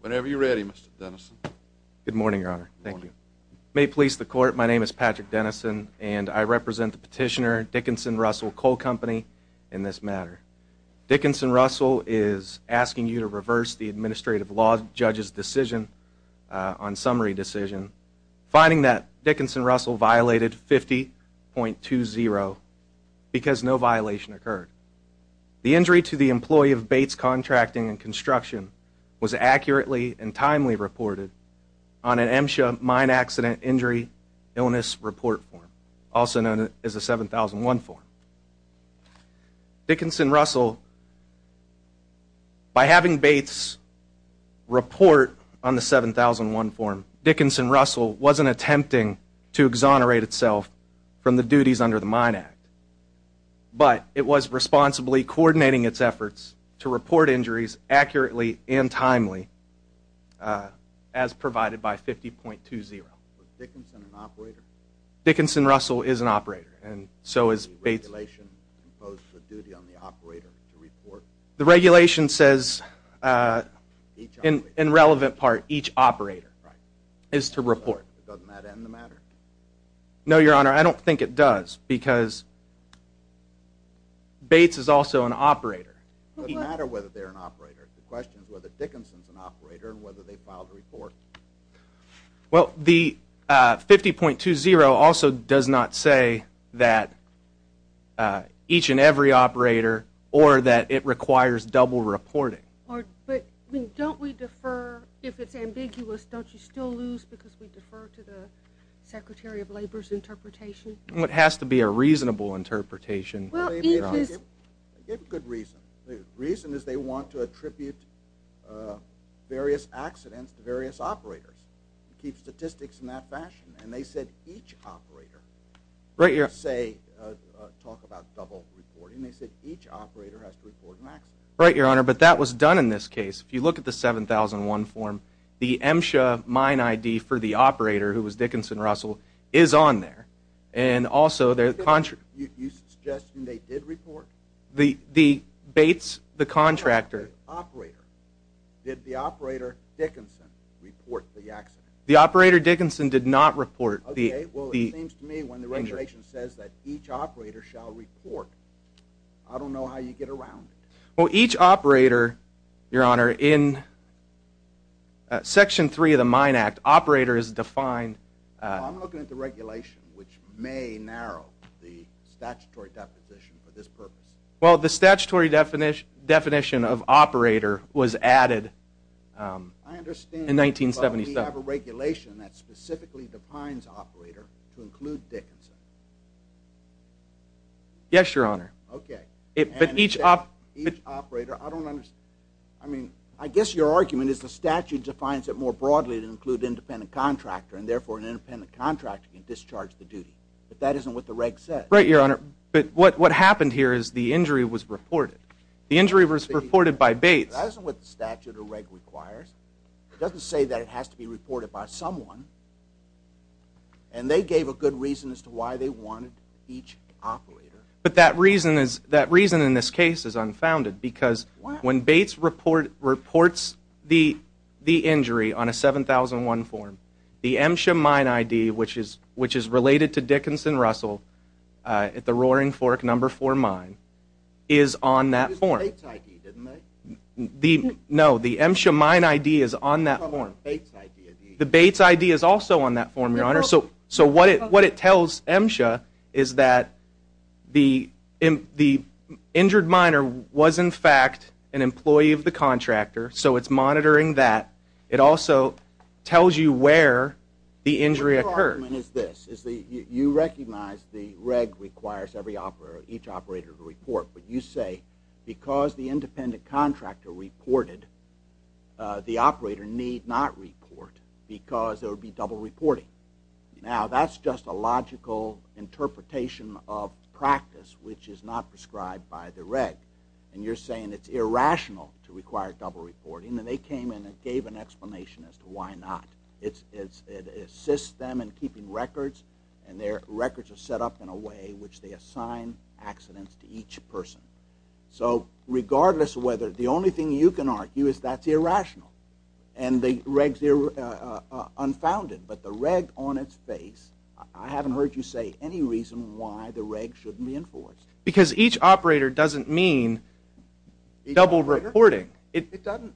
Whenever you're ready, Mr. Denison. Good morning, Your Honor. Thank you. May it please the Court, my name is Patrick Denison, and I represent the petitioner, Dickinson-Russell Coal Company, in this matter. Dickinson-Russell is asking you to reverse the administrative law judge's decision on summary decision, finding that Dickinson-Russell violated 50.20 because no violation occurred. The injury to the employee of Bates Contracting and Construction was accurately and timely reported on an MSHA Mine Accident Injury Illness Report form, also known as the 7001 form. Dickinson-Russell, by having Bates report on the 7001 form, Dickinson-Russell wasn't attempting to exonerate itself from the duties under the Mine Act, but it was responsibly coordinating its efforts to report injuries accurately and timely, as provided by 50.20. Was Dickinson an operator? Dickinson-Russell is an operator, and so is Bates. Does the regulation impose a duty on the operator to report? The regulation says, in relevant part, each operator is to report. Doesn't that end the matter? No, Your Honor, I don't think it does, because Bates is also an operator. It doesn't matter whether they're an operator. The question is whether Dickinson's an operator and whether they filed a report. Well, the 50.20 also does not say that each and every operator, or that it requires double reporting. But don't we defer? If it's ambiguous, don't you still lose because we defer to the Secretary of Labor's interpretation? It has to be a reasonable interpretation, Your Honor. They have a good reason. The reason is they want to attribute various accidents to various operators, to keep statistics in that fashion, and they said each operator. Right, Your Honor. They didn't say, talk about double reporting. They said each operator has to report an accident. Right, Your Honor, but that was done in this case. If you look at the 7001 form, the MSHA mine ID for the operator, who was Dickinson-Russell, is on there. And also there's a contract. You're suggesting they did report? The Bates, the contractor. The operator. Did the operator, Dickinson, report the accident? The operator, Dickinson, did not report the injury. Okay, well, it seems to me when the regulation says that each operator shall report, I don't know how you get around it. Well, each operator, Your Honor, in Section 3 of the Mine Act, operator is defined. I'm looking at the regulation, which may narrow the statutory deposition for this purpose. Well, the statutory definition of operator was added in 1977. I understand, but we have a regulation that specifically defines operator to include Dickinson. Yes, Your Honor. Okay. But each operator, I don't understand. I mean, I guess your argument is the statute defines it more broadly to include independent contractor, and therefore an independent contractor can discharge the duty. But that isn't what the reg says. Right, Your Honor, but what happened here is the injury was reported. The injury was reported by Bates. That isn't what the statute or reg requires. It doesn't say that it has to be reported by someone. And they gave a good reason as to why they wanted each operator. But that reason in this case is unfounded. Why? Because when Bates reports the injury on a 7001 form, the MSHA mine ID, which is related to Dickinson-Russell at the Roaring Fork No. 4 mine, is on that form. It was Bates' ID, didn't they? No, the MSHA mine ID is on that form. It was Bates' ID. The Bates' ID is also on that form, Your Honor. So what it tells MSHA is that the injured miner was, in fact, an employee of the contractor, so it's monitoring that. It also tells you where the injury occurred. Your argument is this. You recognize the reg requires each operator to report. But you say because the independent contractor reported, the operator need not report because there would be double reporting. Now, that's just a logical interpretation of practice, which is not prescribed by the reg. And you're saying it's irrational to require double reporting. And they came in and gave an explanation as to why not. It assists them in keeping records, and their records are set up in a way which they assign accidents to each person. So regardless of whether, the only thing you can argue is that's irrational. And the regs, they're unfounded. But the reg on its face, I haven't heard you say any reason why the reg shouldn't be enforced. Because each operator doesn't mean double reporting. It doesn't.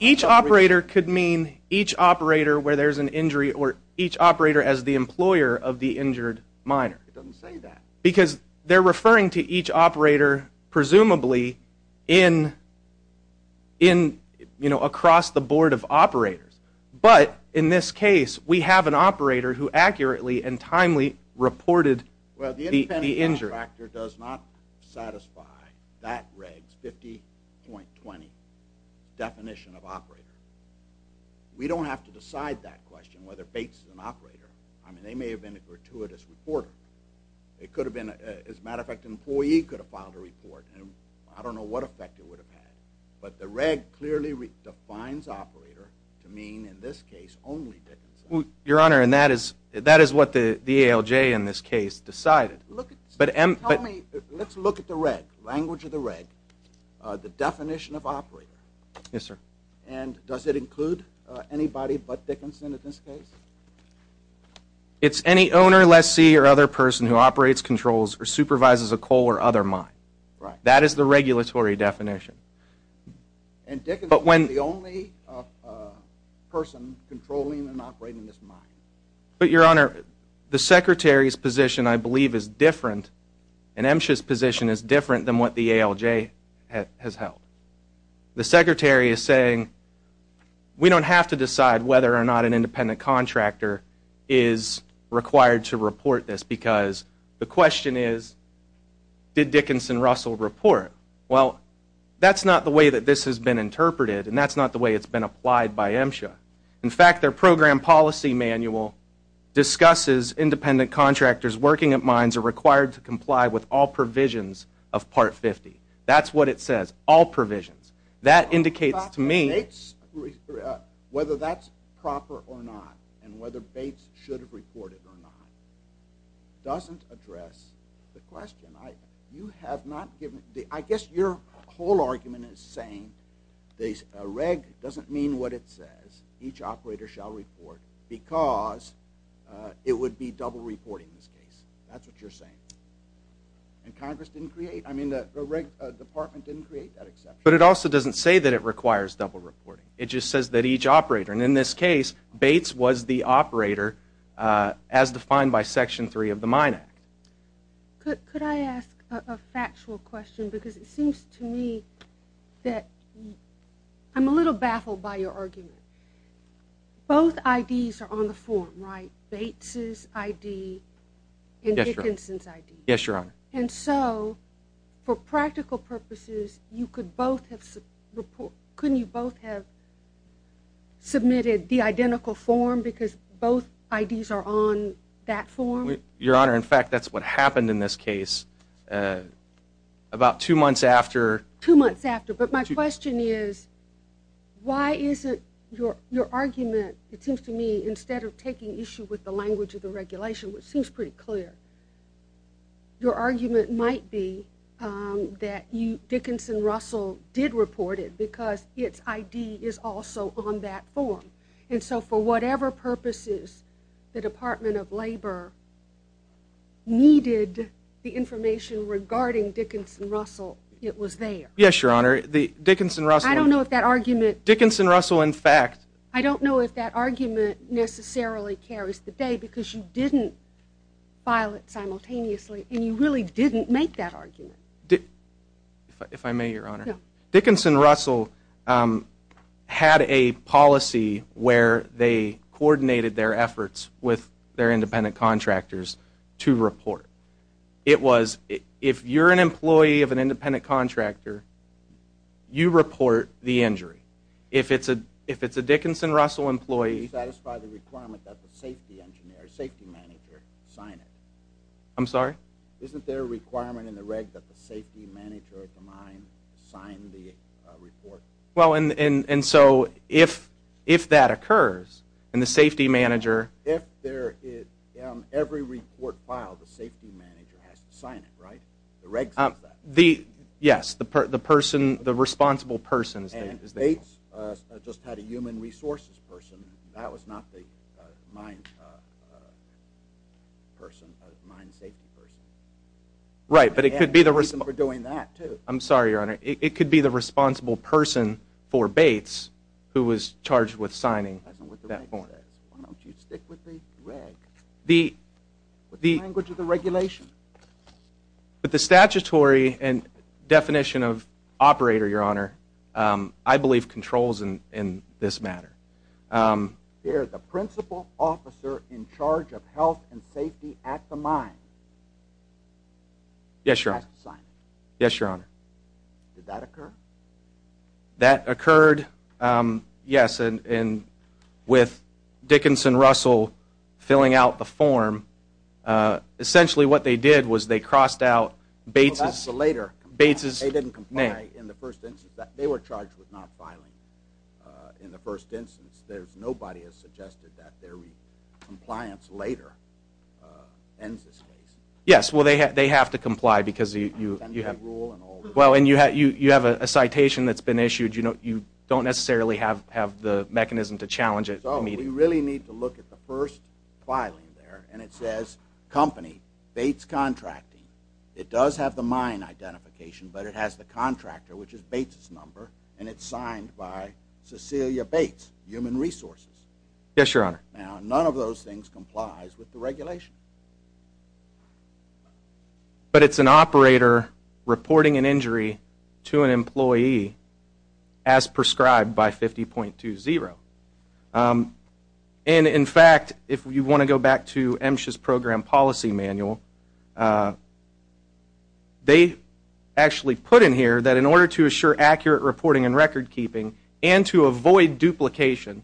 Each operator could mean each operator where there's an injury or each operator as the employer of the injured minor. It doesn't say that. Because they're referring to each operator presumably across the board of operators. But in this case, we have an operator who accurately and timely reported the injury. The contractor does not satisfy that reg's 50.20 definition of operator. We don't have to decide that question, whether Bates is an operator. I mean, they may have been a gratuitous reporter. It could have been, as a matter of fact, an employee could have filed a report. I don't know what effect it would have had. But the reg clearly defines operator to mean, in this case, only that. Your Honor, and that is what the ALJ in this case decided. Tell me, let's look at the reg, language of the reg, the definition of operator. Yes, sir. And does it include anybody but Dickinson in this case? It's any owner, lessee, or other person who operates, controls, or supervises a coal or other mine. That is the regulatory definition. And Dickinson is the only person controlling and operating this mine. But, Your Honor, the Secretary's position, I believe, is different, and MSHA's position is different than what the ALJ has held. The Secretary is saying, we don't have to decide whether or not an independent contractor is required to report this because the question is, did Dickinson Russell report? Well, that's not the way that this has been interpreted, and that's not the way it's been applied by MSHA. In fact, their program policy manual discusses independent contractors working at mines are required to comply with all provisions of Part 50. That's what it says, all provisions. That indicates to me whether that's proper or not and whether Bates should have reported or not doesn't address the question. I guess your whole argument is saying that a reg doesn't mean what it says, each operator shall report, because it would be double reporting in this case. That's what you're saying. And Congress didn't create, I mean, the department didn't create that exception. But it also doesn't say that it requires double reporting. It just says that each operator, and in this case, Bates was the operator as defined by Section 3 of the Mine Act. Could I ask a factual question? Because it seems to me that I'm a little baffled by your argument. Both IDs are on the form, right? Bates' ID and Dickinson's ID. Yes, Your Honor. And so for practical purposes, you could both have reported. Couldn't you both have submitted the identical form because both IDs are on that form? Your Honor, in fact, that's what happened in this case. About two months after. Two months after. But my question is, why isn't your argument, it seems to me, instead of taking issue with the language of the regulation, which seems pretty clear, your argument might be that Dickinson-Russell did report it because its ID is also on that form. And so for whatever purposes the Department of Labor needed the information regarding Dickinson-Russell, it was there. Yes, Your Honor. Dickinson-Russell. I don't know if that argument. Dickinson-Russell, in fact. I don't know if that argument necessarily carries the day because you didn't file it simultaneously, and you really didn't make that argument. If I may, Your Honor. No. Dickinson-Russell had a policy where they coordinated their efforts with their independent contractors to report. It was, if you're an employee of an independent contractor, you report the injury. If it's a Dickinson-Russell employee. Do you satisfy the requirement that the safety manager sign it? I'm sorry? Isn't there a requirement in the reg that the safety manager of the mine sign the report? Well, and so if that occurs and the safety manager. If every report filed, the safety manager has to sign it, right? The reg says that. Yes, the person, the responsible person. And Bates just had a human resources person. That was not the mine person. That was the mine safety person. Right, but it could be the responsible. They had a reason for doing that, too. I'm sorry, Your Honor. It could be the responsible person for Bates who was charged with signing that form. Why don't you stick with the reg? The language of the regulation. But the statutory definition of operator, Your Honor, I believe controls in this matter. There is a principal officer in charge of health and safety at the mine. Yes, Your Honor. Has to sign it. Yes, Your Honor. Did that occur? That occurred, yes, and with Dickinson-Russell filling out the form, essentially what they did was they crossed out Bates' name. They didn't comply in the first instance. They were charged with not filing in the first instance. Nobody has suggested that their compliance later ends this case. Yes, well, they have to comply because you have to. The citation that's been issued, you don't necessarily have the mechanism to challenge it immediately. So we really need to look at the first filing there, and it says, Company, Bates Contracting. It does have the mine identification, but it has the contractor, which is Bates' number, and it's signed by Cecilia Bates, Human Resources. Yes, Your Honor. Now, none of those things complies with the regulation. But it's an operator reporting an injury to an employee as prescribed by 50.20. And, in fact, if you want to go back to MSHA's Program Policy Manual, they actually put in here that in order to assure accurate reporting and record keeping and to avoid duplication,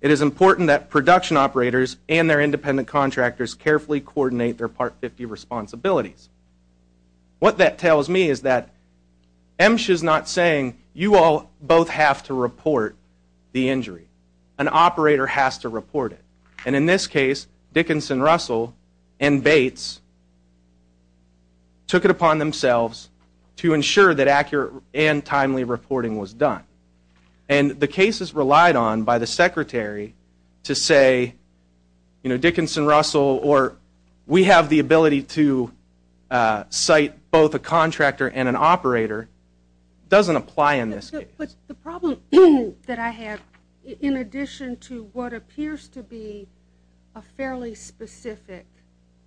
it is important that production operators and their independent contractors carefully coordinate their Part 50 responsibilities. What that tells me is that MSHA's not saying you all both have to report the injury. An operator has to report it. And in this case, Dickinson, Russell, and Bates took it upon themselves to ensure that accurate and timely reporting was done. And the cases relied on by the Secretary to say, you know, Dickinson, Russell, or we have the ability to cite both a contractor and an operator doesn't apply in this case. But the problem that I have, in addition to what appears to be a fairly specific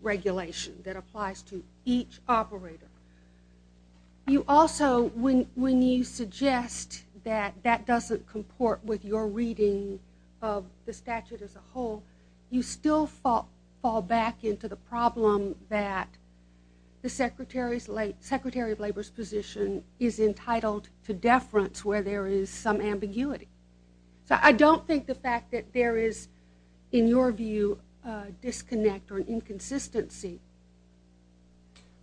regulation that applies to each operator, you also, when you suggest that that doesn't comport with your reading of the statute as a whole, you still fall back into the problem that the Secretary of Labor's position is entitled to deference where there is some ambiguity. So I don't think the fact that there is, in your view, a disconnect or an inconsistency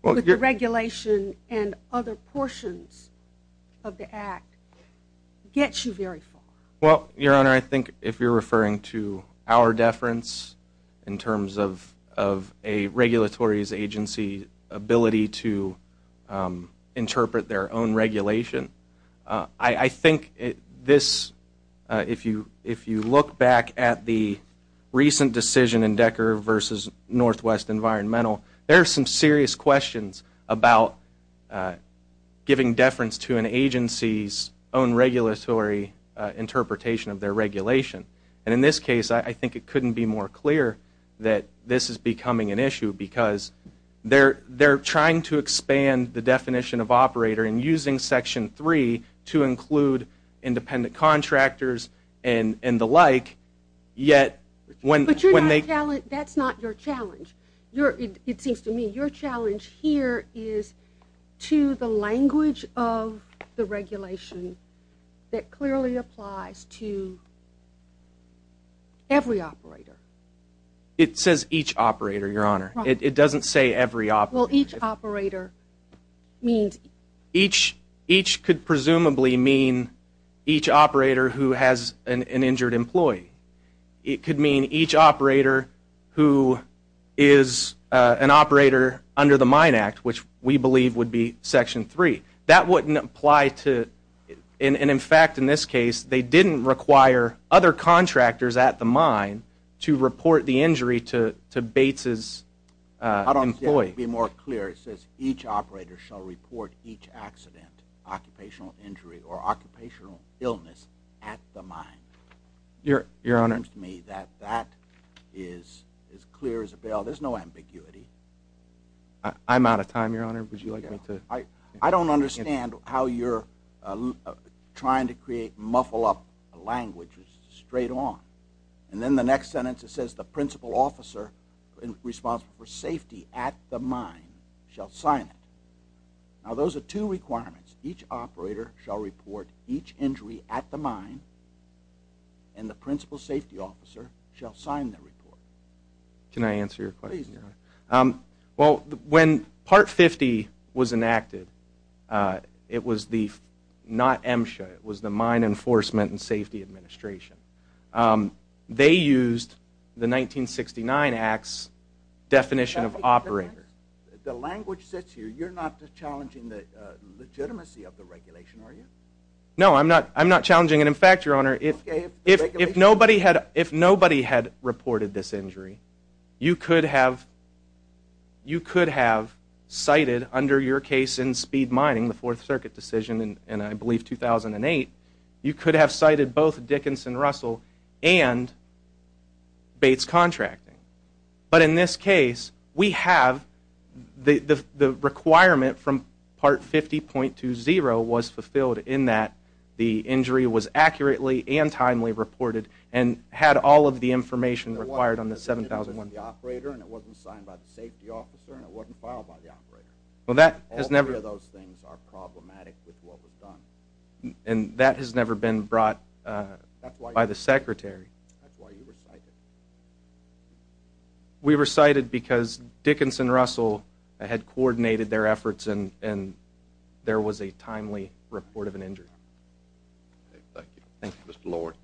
with the regulation and other portions of the Act gets you very far. Well, Your Honor, I think if you're referring to our deference in terms of a regulatory's agency ability to interpret their own regulation, I think this, if you look back at the recent decision in Decker versus Northwest Environmental, there are some serious questions about giving deference to an agency's own regulatory interpretation of their regulation. And in this case, I think it couldn't be more clear that this is becoming an issue because they're trying to expand the definition of operator and using Section 3 to include independent contractors and the like, yet when they... But that's not your challenge. It seems to me your challenge here is to the language of the regulation that clearly applies to every operator. It says each operator, Your Honor. It doesn't say every operator. Well, each operator means... Each could presumably mean each operator who has an injured employee. It could mean each operator who is an operator under the Mine Act, which we believe would be Section 3. That wouldn't apply to... To report the injury to Bates' employee. I don't think it would be more clear. It says each operator shall report each accident, occupational injury, or occupational illness at the mine. Your Honor. It seems to me that that is as clear as a bell. There's no ambiguity. I'm out of time, Your Honor. Would you like me to... I don't understand how you're trying to create, muffle up language straight on. And then the next sentence, it says the principal officer responsible for safety at the mine shall sign it. Now, those are two requirements. Each operator shall report each injury at the mine, and the principal safety officer shall sign the report. Can I answer your question, Your Honor? Please do. Well, when Part 50 was enacted, it was the... They used the 1969 Act's definition of operator. The language sits here. You're not challenging the legitimacy of the regulation, are you? No, I'm not challenging it. In fact, Your Honor, if nobody had reported this injury, you could have cited under your case in speed mining, the Fourth Circuit decision in, I believe, 2008, you could have cited both Dickinson-Russell and Bates Contracting. But in this case, we have the requirement from Part 50.20 was fulfilled in that the injury was accurately and timely reported and had all of the information required on the 7,000... It wasn't signed by the operator and it wasn't signed by the safety officer and it wasn't filed by the operator. Well, that has never... All three of those things are problematic with what was done. And that has never been brought by the secretary. That's why you recited. We recited because Dickinson-Russell had coordinated their efforts and there was a timely report of an injury. Thank you. Thank you, Mr. Lord.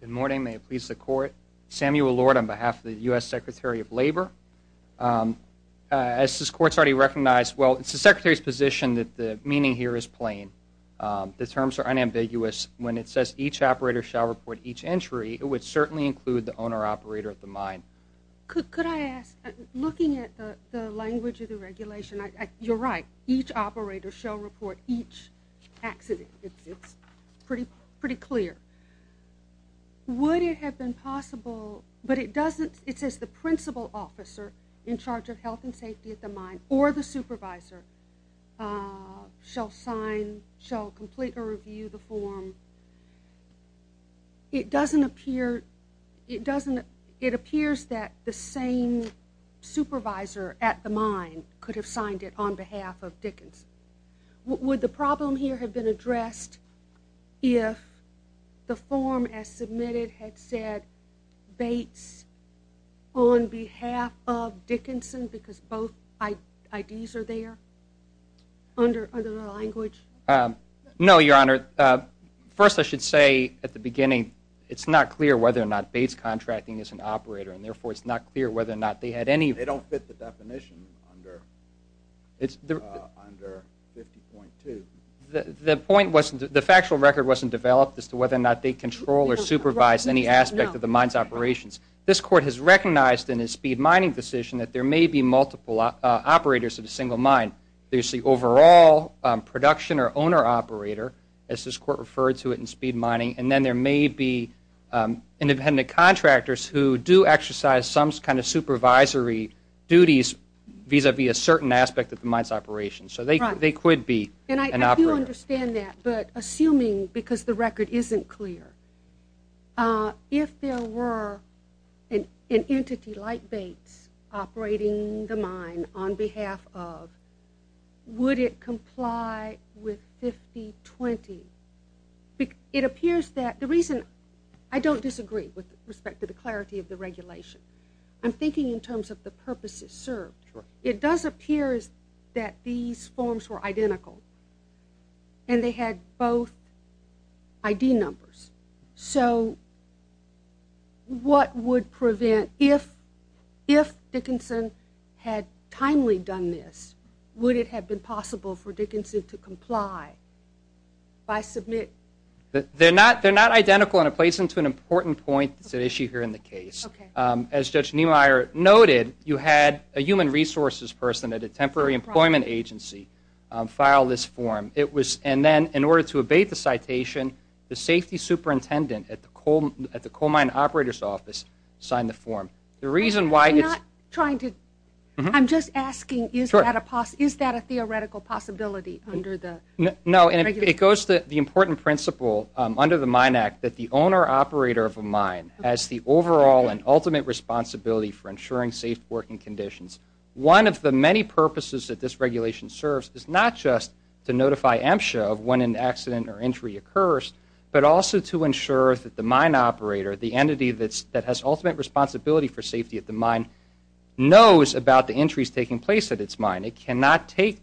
Good morning. May it please the court. Samuel Lord on behalf of the U.S. Secretary of Labor. As this court's already recognized, well, it's the secretary's position that the meaning here is plain. The terms are unambiguous. When it says each operator shall report each injury, it would certainly include the owner-operator of the mine. Could I ask, looking at the language of the regulation, you're right. Each operator shall report each accident. It's pretty clear. Would it have been possible, but it doesn't. It says the principal officer in charge of health and safety at the mine or the supervisor shall sign, shall complete or review the form. It doesn't appear. It appears that the same supervisor at the mine could have signed it on behalf of Dickinson. Would the problem here have been addressed if the form as submitted had said Bates on behalf of Dickinson because both IDs are there under the language? No, Your Honor. First, I should say at the beginning, it's not clear whether or not Bates Contracting is an operator, and therefore it's not clear whether or not they had any. They don't fit the definition under 50.2. The point was the factual record wasn't developed as to whether or not they control or supervise any aspect of the mine's operations. This Court has recognized in its speed mining decision that there may be multiple operators in a single mine. There's the overall production or owner-operator, as this Court referred to it in speed mining, and then there may be independent contractors who do exercise some kind of supervisory duties vis-à-vis a certain aspect of the mine's operations. So they could be an operator. And I do understand that, but assuming because the record isn't clear, if there were an entity like Bates operating the mine on behalf of, would it comply with 50.20? It appears that the reason I don't disagree with respect to the clarity of the regulation. I'm thinking in terms of the purpose it served. It does appear that these forms were identical and they had both ID numbers. So what would prevent, if Dickinson had timely done this, would it have been possible for Dickinson to comply by submit? They're not identical and it plays into an important point. It's an issue here in the case. As Judge Niemeyer noted, you had a human resources person at a temporary employment agency file this form. And then in order to obey the citation, the safety superintendent at the coal mine operator's office signed the form. I'm not trying to. I'm just asking is that a theoretical possibility under the regulation? No, and it goes to the important principle under the Mine Act that the owner-operator of a mine has the overall and ultimate responsibility for ensuring safe working conditions. One of the many purposes that this regulation serves is not just to notify MSHA of when an accident or injury occurs, but also to ensure that the mine operator, the entity that has ultimate responsibility for safety at the mine, knows about the injuries taking place at its mine. It cannot take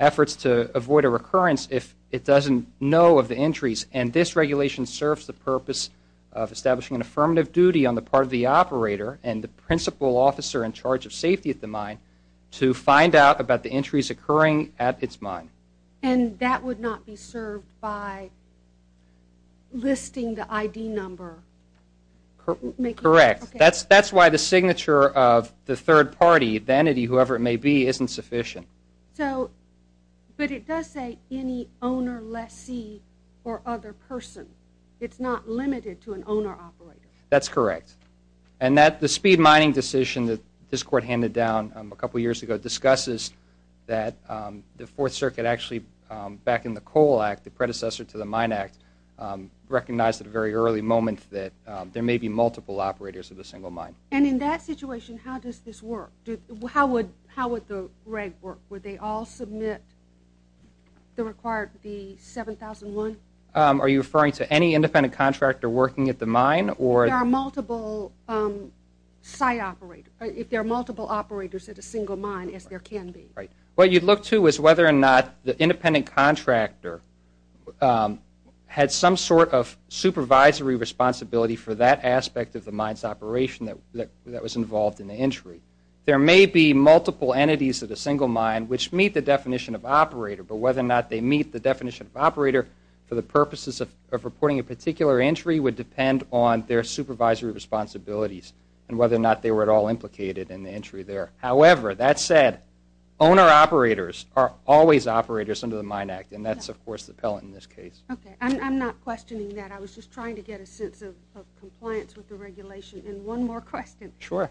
efforts to avoid a recurrence if it doesn't know of the injuries. And this regulation serves the purpose of establishing an affirmative duty on the part of the operator and the principal officer in charge of safety at the mine to find out about the injuries occurring at its mine. And that would not be served by listing the ID number? Correct. That's why the signature of the third party, the entity, whoever it may be, isn't sufficient. But it does say any owner, lessee, or other person. It's not limited to an owner-operator. That's correct. And the speed mining decision that this court handed down a couple years ago discusses that the Fourth Circuit actually, back in the Coal Act, the predecessor to the Mine Act, recognized at a very early moment that there may be multiple operators at a single mine. And in that situation, how does this work? How would the reg work? Would they all submit the required 7,001? Are you referring to any independent contractor working at the mine? There are multiple site operators. If there are multiple operators at a single mine, as there can be. Right. What you'd look to is whether or not the independent contractor had some sort of supervisory responsibility for that aspect of the mine's operation that was involved in the injury. There may be multiple entities at a single mine which meet the definition of operator, but whether or not they meet the definition of operator for the purposes of reporting a particular injury would depend on their supervisory responsibilities and whether or not they were at all implicated in the injury there. However, that said, owner-operators are always operators under the Mine Act, and that's, of course, the pellet in this case. Okay. I'm not questioning that. I was just trying to get a sense of compliance with the regulation. And one more question. Sure.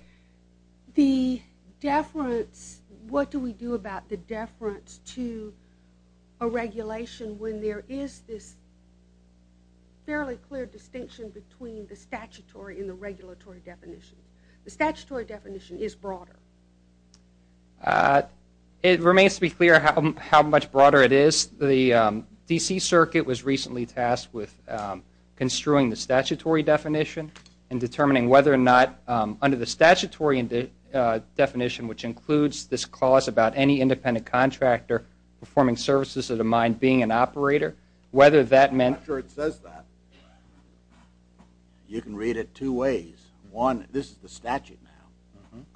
The deference, what do we do about the deference to a regulation when there is this fairly clear distinction between the statutory and the regulatory definition? The statutory definition is broader. It remains to be clear how much broader it is. The D.C. Circuit was recently tasked with construing the statutory definition and determining whether or not under the statutory definition, which includes this clause about any independent contractor performing services at a mine being an operator, whether that meant... I'm not sure it says that. You can read it two ways. One, this is the statute now.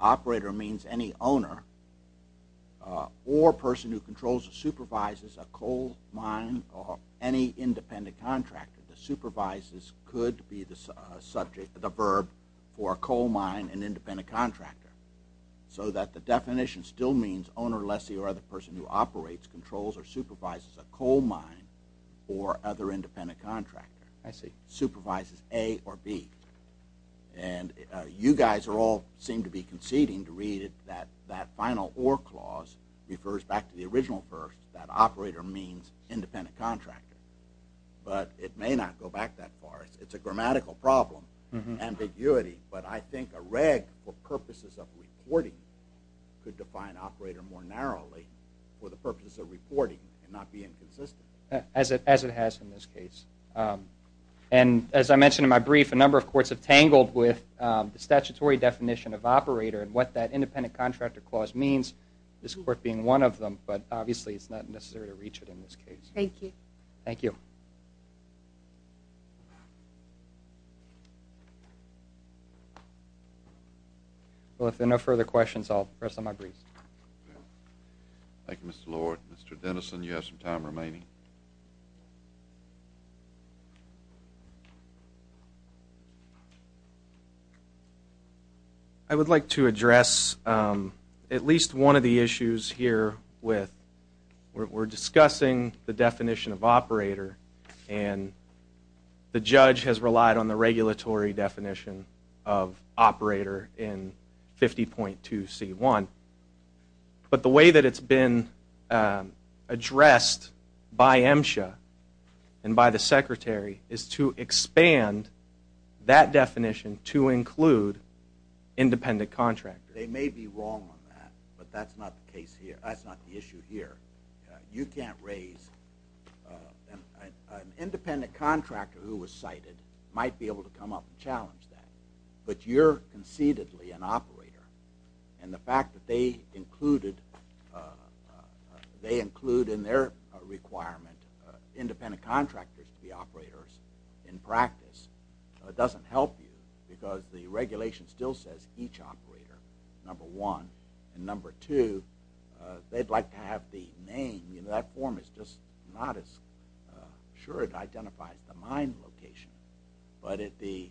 Operator means any owner or person who controls or supervises a coal mine or any independent contractor. The supervises could be the verb for a coal mine, an independent contractor, so that the definition still means owner, lessee, or the person who operates, controls, or supervises a coal mine or other independent contractor. I see. Supervises A or B. And you guys all seem to be conceding to read it that that final or clause refers back to the original verse that operator means independent contractor. But it may not go back that far. It's a grammatical problem, ambiguity, but I think a reg for purposes of reporting could define operator more narrowly for the purposes of reporting and not be inconsistent. As it has in this case. And as I mentioned in my brief, a number of courts have tangled with the statutory definition of operator and what that independent contractor clause means, this court being one of them, but obviously it's not necessary to reach it in this case. Thank you. Thank you. Well, if there are no further questions, I'll rest on my briefs. Thank you, Mr. Lord. Mr. Denison, you have some time remaining. I would like to address at least one of the issues here with we're discussing the definition of operator and the judge has relied on the regulatory definition of operator in 50.2C1, but the way that it's been addressed by MSHA and by the secretary is to expand that definition to include independent contractor. They may be wrong on that, but that's not the issue here. You can't raise an independent contractor who was cited might be able to come up and challenge that, but you're concededly an operator and the fact that they include in their requirement independent contractors to be operators in practice doesn't help you because the regulation still says each operator, number one. And number two, they'd like to have the name. That form is just not as sure. It identifies the mine location, but the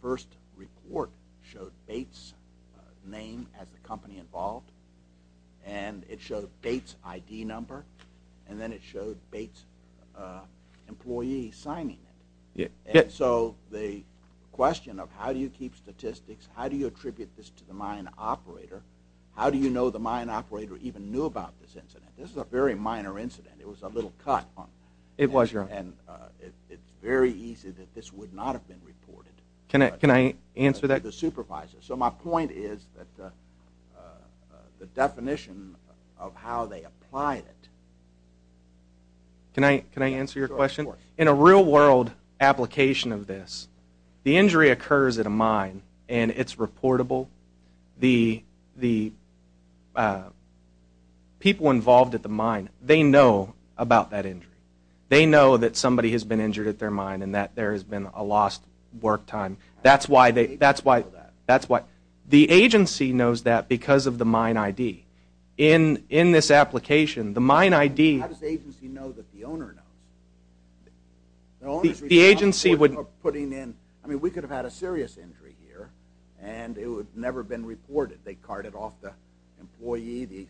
first report showed Bates' name as the company involved and it showed Bates' ID number and then it showed Bates' employee signing it. So the question of how do you keep statistics, how do you attribute this to the mine operator, how do you know the mine operator even knew about this incident? This is a very minor incident. It was a little cut and it's very easy that this would not have been reported. Can I answer that? The supervisor. So my point is that the definition of how they applied it. Can I answer your question? In a real world application of this, the injury occurs at a mine and it's reportable. The people involved at the mine, they know about that injury. They know that somebody has been injured at their mine and that there has been a lost work time. That's why the agency knows that because of the mine ID. In this application, the mine ID. How does the agency know that the owner knows? The owner is responsible for putting in. I mean, we could have had a serious injury here and it would have never been reported. They carted off the employee, the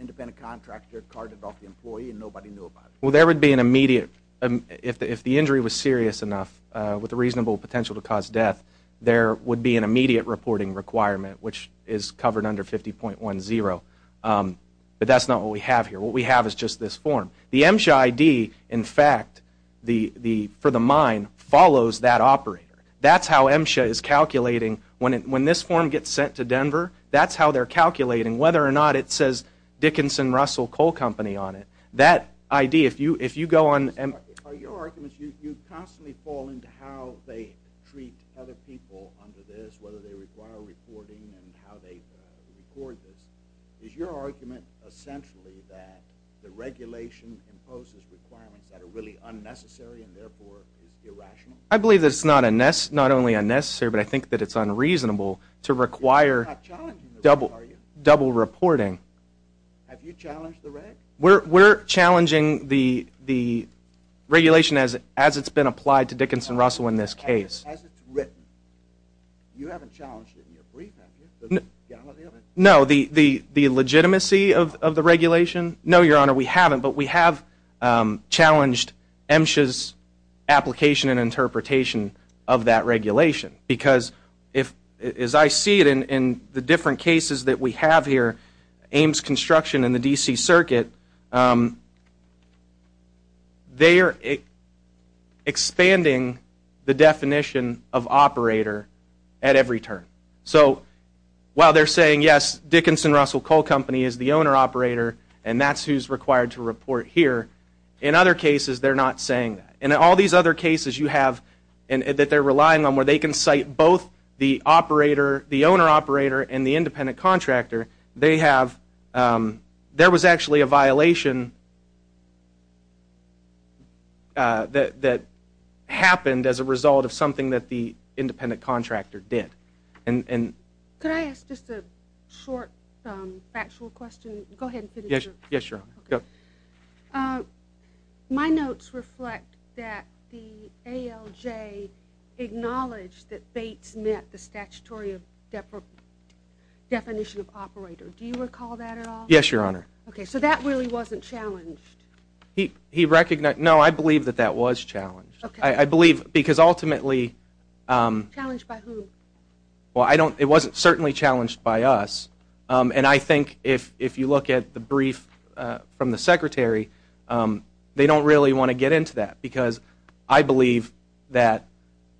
independent contractor carted off the employee and nobody knew about it. Well, there would be an immediate, if the injury was serious enough with a reasonable potential to cause death, there would be an immediate reporting requirement which is covered under 50.10. But that's not what we have here. What we have is just this form. The MSHA ID, in fact, for the mine, follows that operator. That's how MSHA is calculating. When this form gets sent to Denver, that's how they're calculating whether or not it says Dickinson Russell Coal Company on it. That ID, if you go on MSHA. Are your arguments, you constantly fall into how they treat other people under this, whether they require reporting and how they record this. Is your argument essentially that the regulation imposes requirements that are really unnecessary and therefore is irrational? I believe that it's not only unnecessary, but I think that it's unreasonable to require double reporting. Have you challenged the reg? We're challenging the regulation as it's been applied to Dickinson Russell in this case. As it's written. You haven't challenged it in your brief, have you? No. The legitimacy of the regulation? No, Your Honor, we haven't. But we have challenged MSHA's application and interpretation of that regulation. Because as I see it in the different cases that we have here, Ames Construction and the D.C. Circuit, they are expanding the definition of operator at every turn. So while they're saying, yes, Dickinson Russell Coal Company is the owner-operator and that's who's required to report here, in other cases they're not saying that. And in all these other cases you have that they're relying on where they can cite both the operator, the owner-operator and the independent contractor, there was actually a violation that happened as a result of something that the independent contractor did. Could I ask just a short factual question? Yes, Your Honor. My notes reflect that the ALJ acknowledged that Bates met the statutory definition of operator. Do you recall that at all? Yes, Your Honor. Okay, so that really wasn't challenged? No, I believe that that was challenged. I believe because ultimately... Challenged by whom? Well, it wasn't certainly challenged by us. And I think if you look at the brief from the Secretary, they don't really want to get into that because I believe that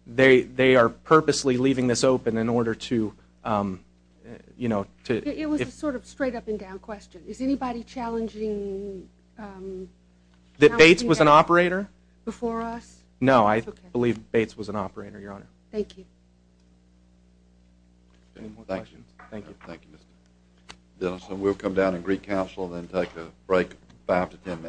they are purposely leaving this open in order to... It was a sort of straight up and down question. Is anybody challenging... That Bates was an operator? Before us? No, I believe Bates was an operator, Your Honor. Thank you. Any more questions? Thank you. Thank you, Mr. Denison. We'll come down and recouncil and then take a break, five to ten minutes.